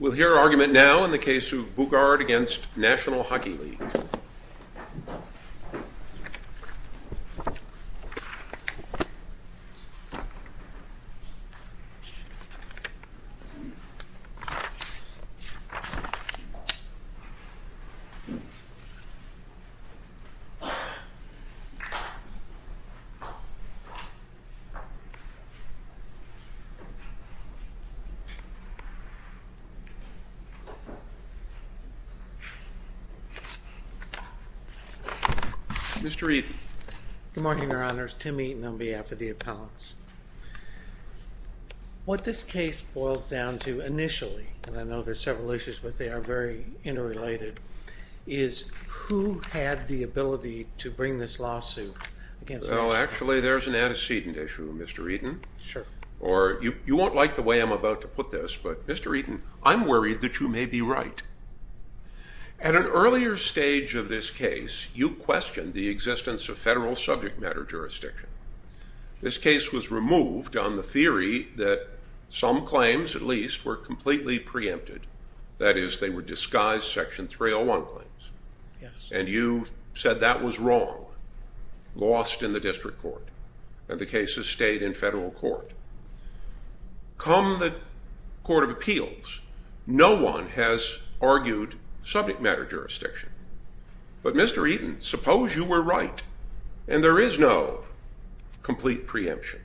We'll hear argument now in the case of Boogaard v. National Hockey League. Mr. Eaton Good morning, Your Honors. Tim Eaton on behalf of the appellants. What this case boils down to initially, and I know there are several issues, but they are very interrelated, is who had the ability to bring this lawsuit? Well, actually, there's an antecedent issue, Mr. Eaton. Sure. You won't like the way I'm about to put this, but Mr. Eaton, I'm worried that you may be right. At an earlier stage of this case, you questioned the existence of federal subject matter jurisdiction. This case was removed on the theory that some claims, at least, were completely preempted. That is, they were disguised Section 301 claims. Yes. And you said that was wrong, lost in the district court, and the case has stayed in federal court. Come the Court of Appeals, no one has argued subject matter jurisdiction. But, Mr. Eaton, suppose you were right, and there is no complete preemption.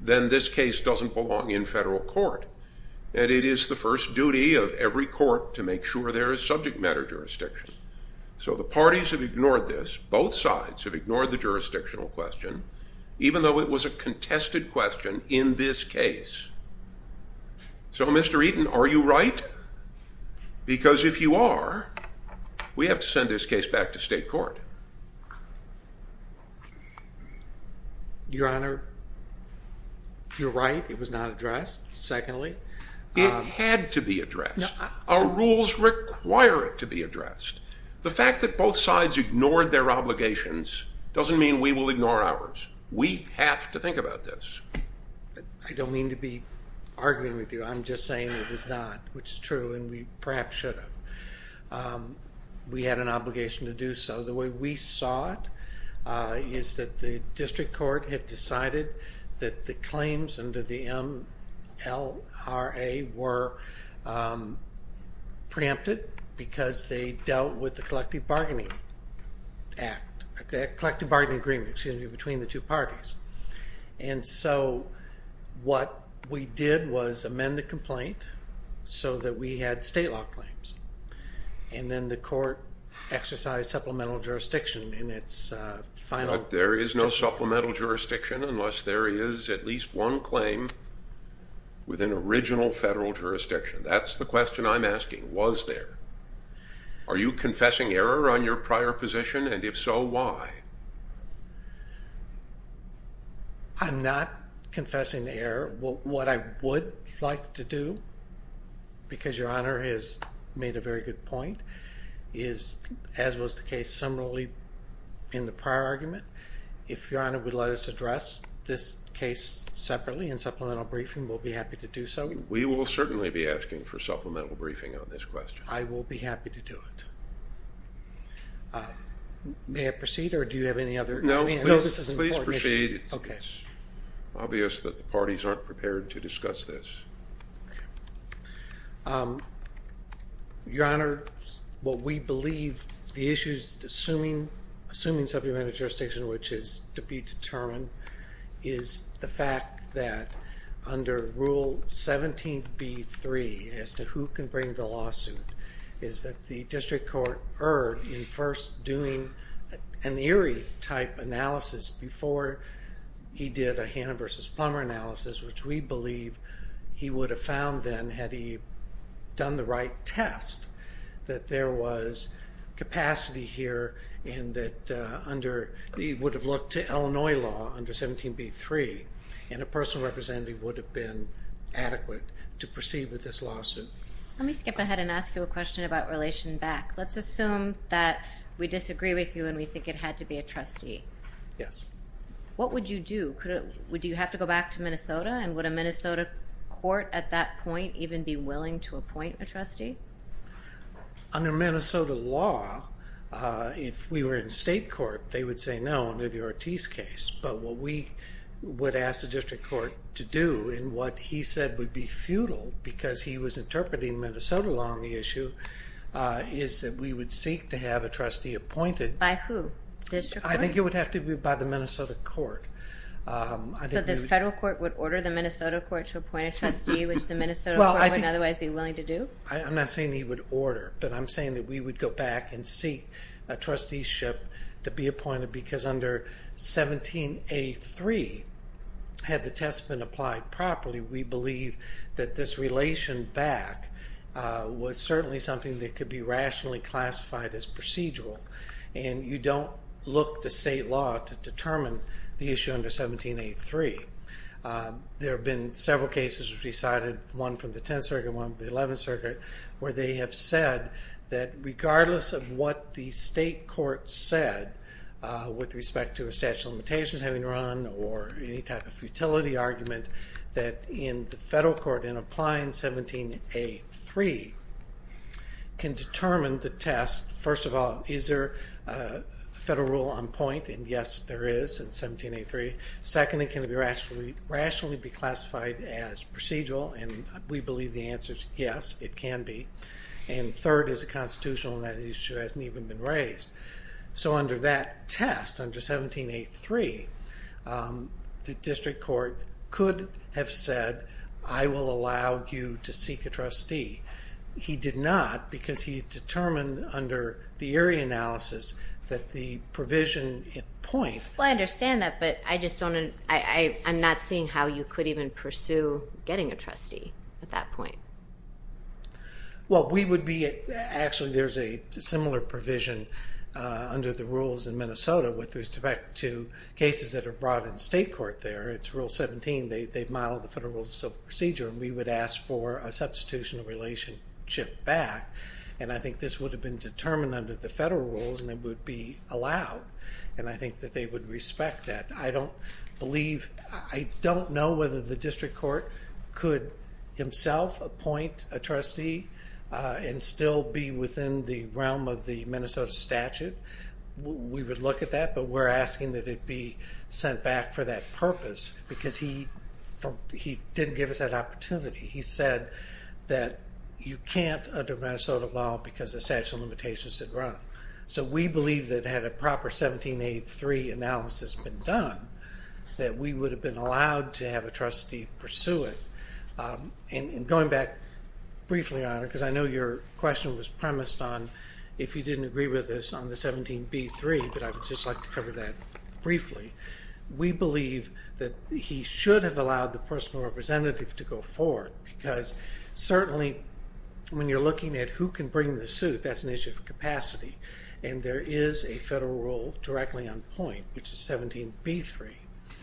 Then this case doesn't belong in federal court, and it is the first duty of every court to make sure there is subject matter jurisdiction. So the parties have ignored this. Both sides have ignored the jurisdictional question, even though it was a contested question in this case. So, Mr. Eaton, are you right? Because if you are, we have to send this case back to state court. Your Honor, you're right. It was not addressed, secondly. It had to be addressed. Our rules require it to be addressed. The fact that both sides ignored their obligations doesn't mean we will ignore ours. We have to think about this. I don't mean to be arguing with you. I'm just saying it was not, which is true, and we perhaps should have. We had an obligation to do so. The way we saw it is that the district court had decided that the claims under the MLRA were preempted because they dealt with the collective bargaining agreement between the two parties. And so what we did was amend the complaint so that we had state law claims. And then the court exercised supplemental jurisdiction in its final judgment. But there is no supplemental jurisdiction unless there is at least one claim within original federal jurisdiction. That's the question I'm asking. Was there? Are you confessing error on your prior position? And if so, why? I'm not confessing error. What I would like to do, because Your Honor has made a very good point, as was the case similarly in the prior argument, if Your Honor would let us address this case separately in supplemental briefing, we'll be happy to do so. We will certainly be asking for supplemental briefing on this question. I will be happy to do it. May I proceed or do you have any other? No, please proceed. It's obvious that the parties aren't prepared to discuss this. Your Honor, what we believe the issues assuming supplemental jurisdiction, which is to be determined, is the fact that under Rule 17b-3 as to who can bring the lawsuit, is that the district court erred in first doing an Erie-type analysis before he did a Hannah v. Plummer analysis, which we believe he would have found then, had he done the right test, that there was capacity here and that under, he would have looked to Illinois law under 17b-3 and a personal representative would have been adequate to proceed with this lawsuit. Let me skip ahead and ask you a question about relation back. Let's assume that we disagree with you and we think it had to be a trustee. Yes. What would you do? Would you have to go back to Minnesota and would a Minnesota court at that point even be willing to appoint a trustee? Under Minnesota law, if we were in state court, they would say no under the Ortiz case, but what we would ask the district court to do and what he said would be futile, because he was interpreting Minnesota law on the issue, is that we would seek to have a trustee appointed. By who? District court? I think it would have to be by the Minnesota court. So the federal court would order the Minnesota court to appoint a trustee, which the Minnesota court wouldn't otherwise be willing to do? I'm not saying he would order, but I'm saying that we would go back and seek a trusteeship to be appointed because under 17a-3, had the test been applied properly, we believe that this relation back was certainly something that could be rationally classified as procedural and you don't look to state law to determine the issue under 17a-3. There have been several cases decided, one from the 10th Circuit, one from the 11th Circuit, where they have said that regardless of what the state court said with respect to a statute of limitations having run or any type of futility argument, that in the federal court, in applying 17a-3, can determine the test. First of all, is there a federal rule on point? And yes, there is in 17a-3. Second, can it be rationally classified as procedural? And we believe the answer is yes, it can be. And third, is it constitutional? And that issue hasn't even been raised. So under that test, under 17a-3, the district court could have said, I will allow you to seek a trustee. He did not, because he determined under the area analysis that the provision at point... Well, I understand that, but I just don't, I'm not seeing how you could even pursue getting a trustee at that point. Well, we would be, actually there's a similar provision under the rules in Minnesota with respect to cases that are brought in state court there. It's rule 17. They've modeled the federal procedure, and we would ask for a substitutional relationship back. And I think this would have been determined under the federal rules, and it would be allowed. And I think that they would respect that. I don't believe, I don't know whether the district court could himself appoint a trustee and still be within the realm of the Minnesota statute. We would look at that, but we're asking that it be sent back for that purpose. Because he didn't give us that opportunity. He said that you can't under Minnesota law because the statute of limitations had run. So we believe that had a proper 17a-3 analysis been done, that we would have been allowed to have a trustee pursue it. And going back briefly on it, because I know your question was premised on, if you didn't agree with us on the 17b-3, that I would just like to cover that briefly. We believe that he should have allowed the personal representative to go forth, because certainly when you're looking at who can bring the suit, that's an issue of capacity. And there is a federal rule directly on point, which is 17b-3.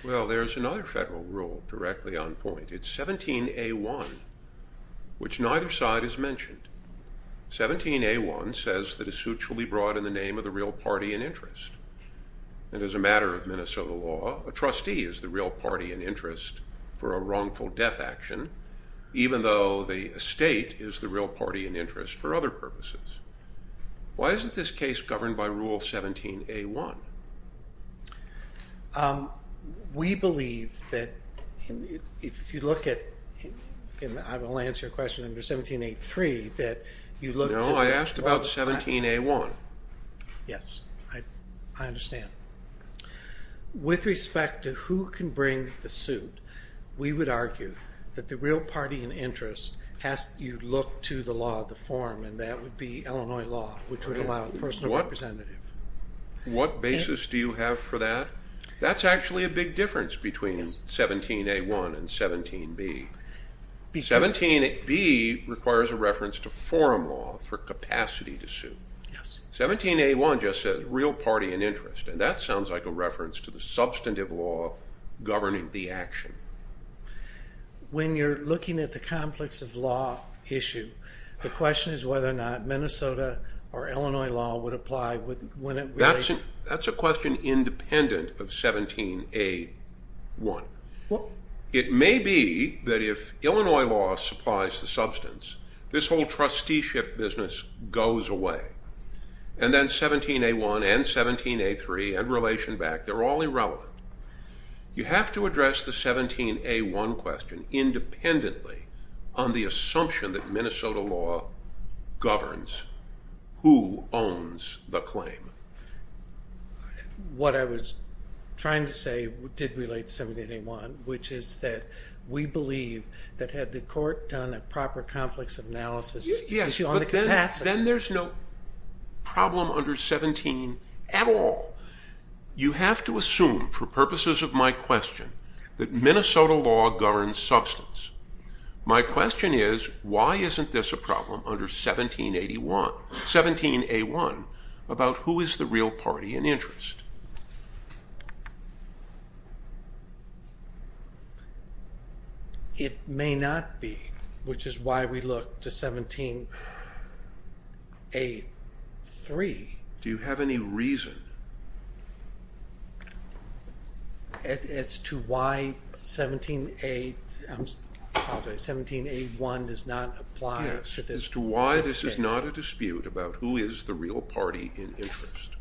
Well, there's another federal rule directly on point. It's 17a-1, which neither side has mentioned. 17a-1 says that a suit shall be brought in the name of the real party in interest. And as a matter of Minnesota law, a trustee is the real party in interest for a wrongful death action, even though the estate is the real party in interest for other purposes. Why isn't this case governed by Rule 17a-1? We believe that if you look at, and I will answer your question under 17a-3, that you look to... No, I asked about 17a-1. Yes, I understand. With respect to who can bring the suit, we would argue that the real party in interest has to look to the law, the form, and that would be Illinois law, which would allow personal representative. What basis do you have for that? That's actually a big difference between 17a-1 and 17b. 17b requires a reference to forum law for capacity to suit. Yes. 17a-1 just says real party in interest, and that sounds like a reference to the substantive law governing the action. When you're looking at the complex of law issue, the question is whether or not Minnesota or Illinois law would apply when it relates... That's a question independent of 17a-1. It may be that if Illinois law supplies the substance, this whole trusteeship business goes away, and then 17a-1 and 17a-3 and relation back, they're all irrelevant. You have to address the 17a-1 question independently on the assumption that Minnesota law governs who owns the claim. What I was trying to say did relate to 17a-1, which is that we believe that had the court done a proper complex analysis issue on the capacity... Yes, but then there's no problem under 17 at all. You have to assume, for purposes of my question, that Minnesota law governs substance. My question is, why isn't this a problem under 17a-1 about who is the real party in interest? It may not be, which is why we look to 17a-3. Do you have any reason? As to why 17a-1 does not apply to this case? Yes, as to why this is not a dispute about who is the real party in interest.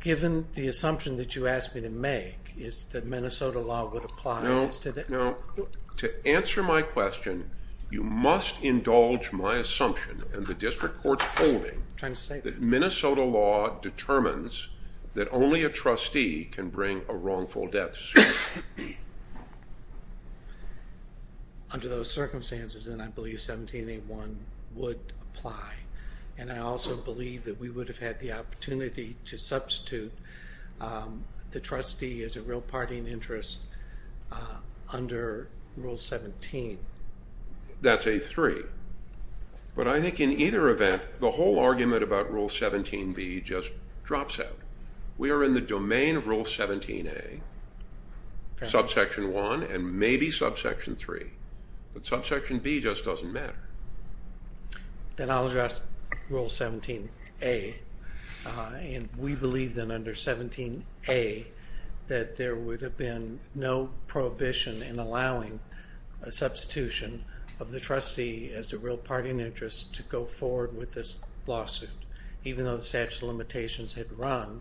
Given the assumption that you asked me to make, is that Minnesota law would apply? No, to answer my question, you must indulge my assumption and the district court's holding... ...that Minnesota law determines that only a trustee can bring a wrongful death suit. Under those circumstances, then I believe 17a-1 would apply, and I also believe that we would have had the opportunity to substitute the trustee as a real party in interest under Rule 17. That's a 3. But I think in either event, the whole argument about Rule 17b just drops out. We are in the domain of Rule 17a, subsection 1, and maybe subsection 3. But subsection b just doesn't matter. Then I'll address Rule 17a. We believe that under 17a that there would have been no prohibition in allowing a substitution of the trustee... ...as the real party in interest to go forward with this lawsuit. Even though the statute of limitations had run,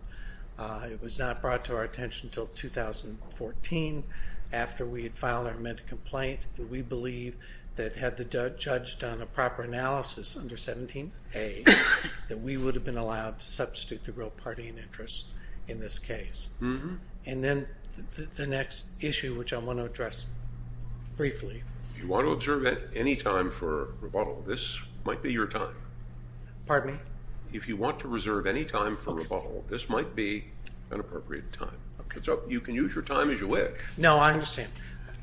it was not brought to our attention until 2014 after we had filed our mental complaint. We believe that had the judge done a proper analysis under 17a, that we would have been allowed to substitute the real party in interest in this case. And then the next issue, which I want to address briefly... If you want to observe any time for rebuttal, this might be your time. Pardon me? If you want to reserve any time for rebuttal, this might be an appropriate time. Okay. So you can use your time as you wish. No, I understand.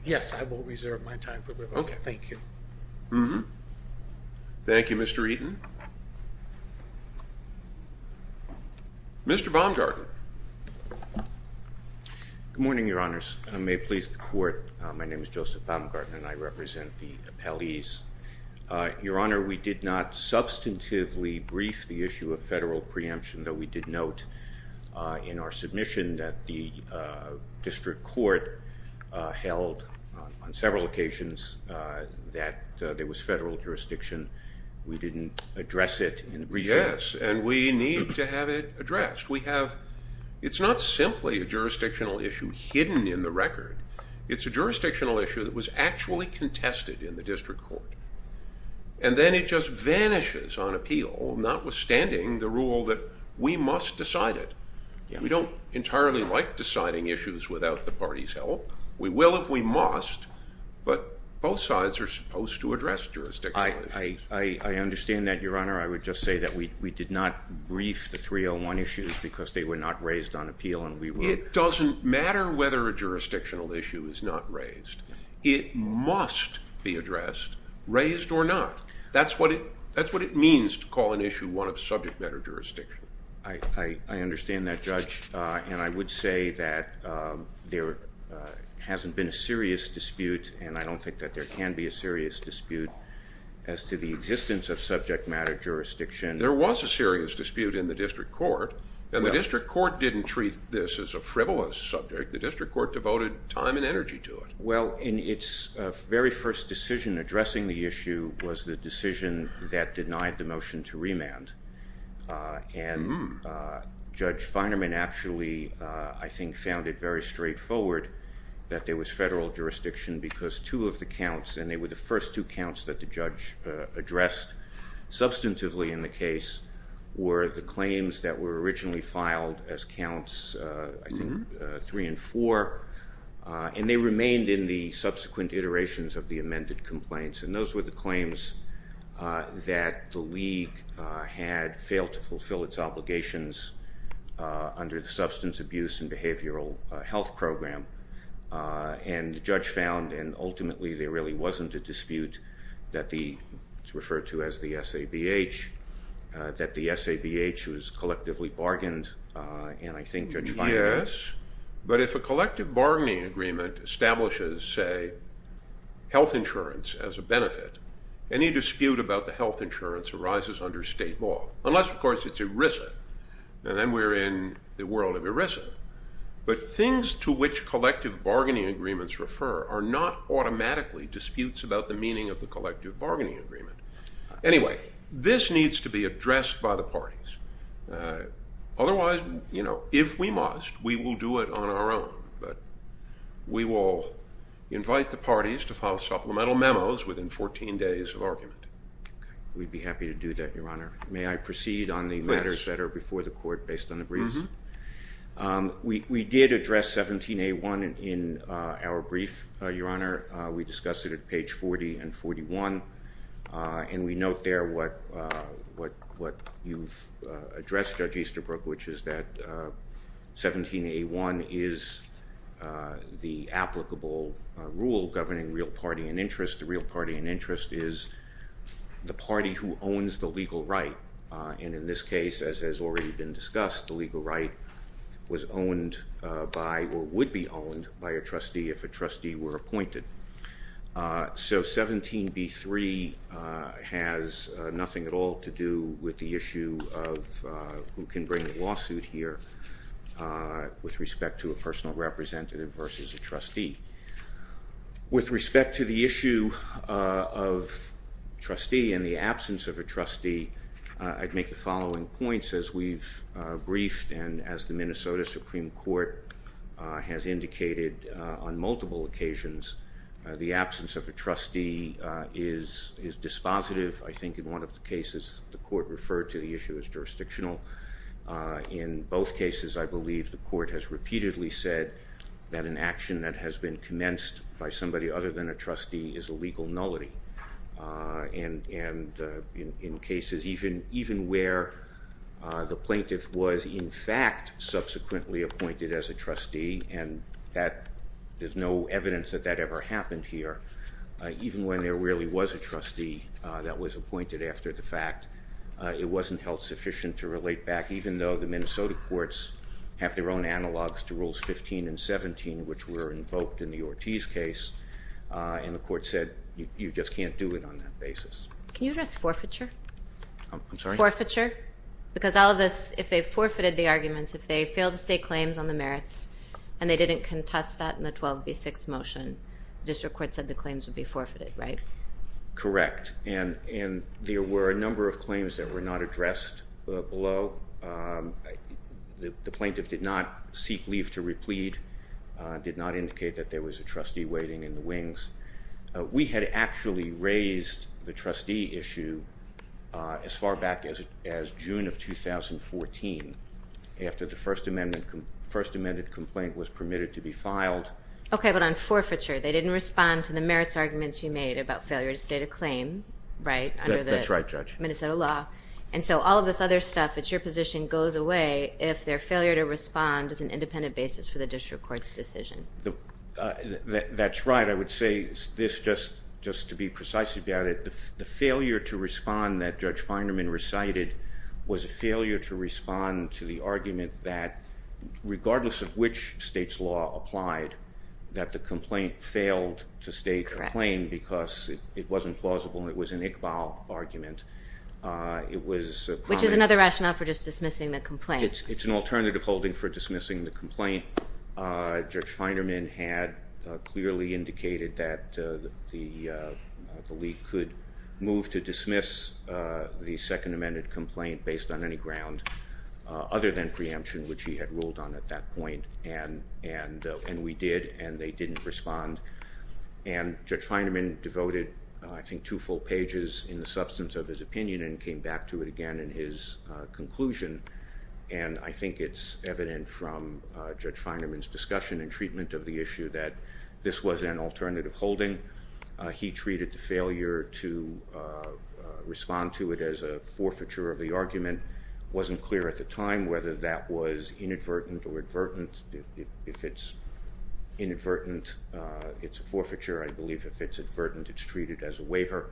Yes, I will reserve my time for rebuttal. Okay. Thank you. Thank you, Mr. Eaton. Mr. Baumgarten. Good morning, your honors. I may please the court. My name is Joseph Baumgarten and I represent the appellees. Your honor, we did not substantively brief the issue of federal preemption, though we did note in our submission that the district court held on several occasions that there was federal jurisdiction. We didn't address it. Yes, and we need to have it addressed. It's not simply a jurisdictional issue hidden in the record. It's a jurisdictional issue that was actually contested in the district court. And then it just vanishes on appeal, notwithstanding the rule that we must decide it. We don't entirely like deciding issues without the party's help. We will if we must, but both sides are supposed to address jurisdictional issues. I understand that, your honor. I would just say that we did not brief the 301 issues because they were not raised on appeal. It doesn't matter whether a jurisdictional issue is not raised. It must be addressed, raised or not. That's what it means to call an issue one of subject matter jurisdiction. I understand that, Judge, and I would say that there hasn't been a serious dispute, and I don't think that there can be a serious dispute. As to the existence of subject matter jurisdiction. There was a serious dispute in the district court, and the district court didn't treat this as a frivolous subject. The district court devoted time and energy to it. Well, in its very first decision addressing the issue was the decision that denied the motion to remand. And Judge Feinerman actually, I think, found it very straightforward that there was federal jurisdiction because two of the counts, and they were the first two counts that the judge addressed substantively in the case, were the claims that were originally filed as counts, I think, three and four. And they remained in the subsequent iterations of the amended complaints. And those were the claims that the league had failed to fulfill its obligations under the substance abuse and behavioral health program. And the judge found, and ultimately there really wasn't a dispute, that the, it's referred to as the SABH, that the SABH was collectively bargained, and I think Judge Feinerman... Yes, but if a collective bargaining agreement establishes, say, health insurance as a benefit, any dispute about the health insurance arises under state law. Unless, of course, it's ERISA, and then we're in the world of ERISA. But things to which collective bargaining agreements refer are not automatically disputes about the meaning of the collective bargaining agreement. Anyway, this needs to be addressed by the parties. Otherwise, you know, if we must, we will do it on our own. But we will invite the parties to file supplemental memos within 14 days of argument. We'd be happy to do that, Your Honor. May I proceed on the matters that are before the court based on the briefs? We did address 17A1 in our brief, Your Honor. We discussed it at page 40 and 41. And we note there what you've addressed, Judge Easterbrook, which is that 17A1 is the applicable rule governing real party and interest. The real party and interest is the party who owns the legal right. And in this case, as has already been discussed, the legal right was owned by or would be owned by a trustee if a trustee were appointed. So 17B3 has nothing at all to do with the issue of who can bring a lawsuit here with respect to a personal representative versus a trustee. With respect to the issue of trustee and the absence of a trustee, I'd make the following points as we've briefed and as the Minnesota Supreme Court has indicated on multiple occasions. The absence of a trustee is dispositive. I think in one of the cases, the court referred to the issue as jurisdictional. In both cases, I believe the court has repeatedly said that an action that has been commenced by somebody other than a trustee is a legal nullity. And in cases even where the plaintiff was in fact subsequently appointed as a trustee, and there's no evidence that that ever happened here, even when there really was a trustee that was appointed after the fact, it wasn't held sufficient to relate back even though the Minnesota courts have their own analogs to Rules 15 and 17, which were invoked in the Ortiz case, and the court said you just can't do it on that basis. Can you address forfeiture? I'm sorry? Forfeiture. Because all of this, if they forfeited the arguments, if they failed to state claims on the merits, and they didn't contest that in the 12B6 motion, the district court said the claims would be forfeited, right? Correct. And there were a number of claims that were not addressed below. The plaintiff did not seek leave to replead, did not indicate that there was a trustee waiting in the wings. We had actually raised the trustee issue as far back as June of 2014 after the First Amendment complaint was permitted to be filed. Okay, but on forfeiture, they didn't respond to the merits arguments you made about failure to state a claim, right, under the Minnesota law. That's right, Judge. And so all of this other stuff, it's your position, goes away if their failure to respond is an independent basis for the district court's decision. That's right. I would say this just to be precise about it. The failure to respond that Judge Feinerman recited was a failure to respond to the argument that regardless of which state's law applied, that the complaint failed to state a claim because it wasn't plausible and it was an Iqbal argument. Which is another rationale for just dismissing the complaint. It's an alternative holding for dismissing the complaint. Judge Feinerman had clearly indicated that the league could move to dismiss the Second Amendment complaint based on any ground other than preemption, which he had ruled on at that point, and we did, and they didn't respond. And Judge Feinerman devoted, I think, two full pages in the substance of his opinion and came back to it again in his conclusion. And I think it's evident from Judge Feinerman's discussion and treatment of the issue that this was an alternative holding. He treated the failure to respond to it as a forfeiture of the argument. It wasn't clear at the time whether that was inadvertent or advertent. If it's inadvertent, it's a forfeiture. I believe if it's advertent, it's treated as a waiver.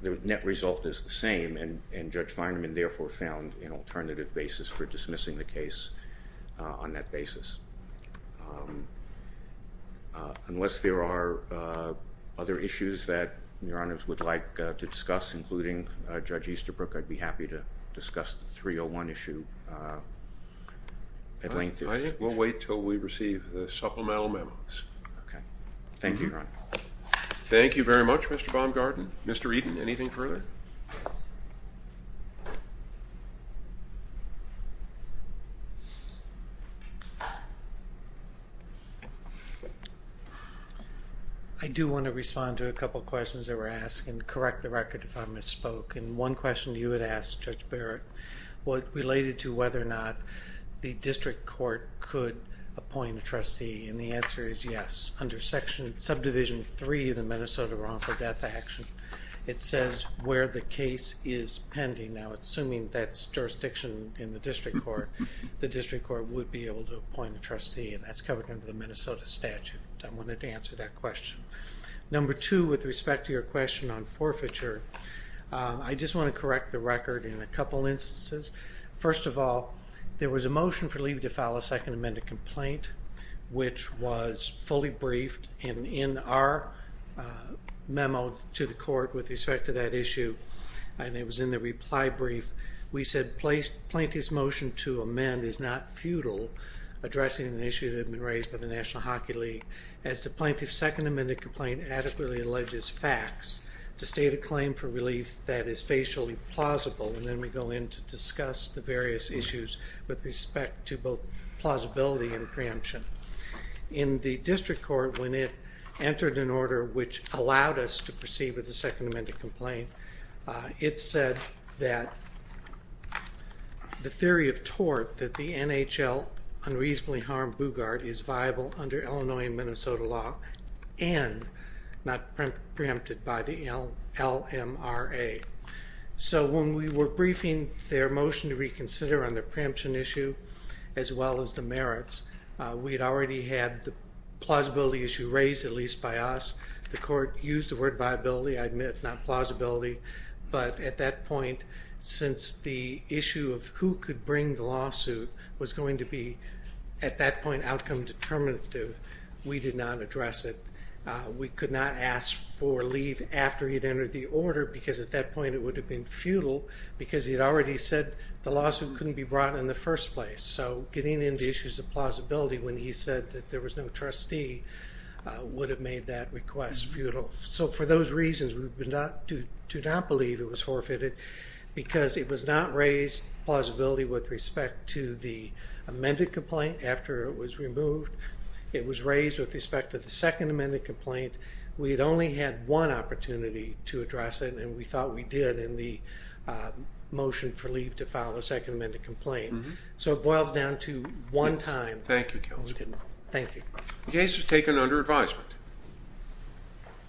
The net result is the same, and Judge Feinerman therefore found an alternative basis for dismissing the case on that basis. Unless there are other issues that Your Honors would like to discuss, including Judge Easterbrook, I'd be happy to discuss the 301 issue at length. I think we'll wait until we receive the supplemental memos. Thank you very much, Mr. Baumgarten. Mr. Eden, anything further? I do want to respond to a couple of questions that were asked and correct the record if I misspoke. And one question you had asked, Judge Barrett, related to whether or not the district court could appoint a trustee, and the answer is yes. Under Subdivision 3 of the Minnesota Wrongful Death Act, it says where the case is pending. Now, assuming that's jurisdiction in the district court, the district court would be able to appoint a trustee, and that's covered under the Minnesota statute. I wanted to answer that question. Number two, with respect to your question on forfeiture, I just want to correct the record in a couple instances. First of all, there was a motion for leave to file a second amended complaint, which was fully briefed. And in our memo to the court with respect to that issue, and it was in the reply brief, we said plaintiff's motion to amend is not futile, addressing an issue that had been raised by the National Hockey League, as the plaintiff's second amended complaint adequately alleges facts. It's a state of claim for relief that is facially plausible, and then we go in to discuss the various issues with respect to both plausibility and preemption. In the district court, when it entered an order which allowed us to proceed with the second amended complaint, it said that the theory of tort that the NHL unreasonably harmed Bugard is viable under Illinois and Minnesota law, and not preempted by the LMRA. So when we were briefing their motion to reconsider on the preemption issue, as well as the merits, we had already had the plausibility issue raised, at least by us. The court used the word viability, I admit, not plausibility. But at that point, since the issue of who could bring the lawsuit was going to be, at that point, outcome determinative, we did not address it. We could not ask for leave after he'd entered the order, because at that point it would have been futile, because he'd already said the lawsuit couldn't be brought in the first place. So getting into issues of plausibility when he said that there was no trustee would have made that request futile. So for those reasons, we do not believe it was forfeited, because it was not raised plausibility with respect to the amended complaint after it was removed. It was raised with respect to the second amended complaint. We had only had one opportunity to address it, and we thought we did in the motion for leave to file a second amended complaint. So it boils down to one time. Thank you, Counselor. Thank you. The case is taken under advisement.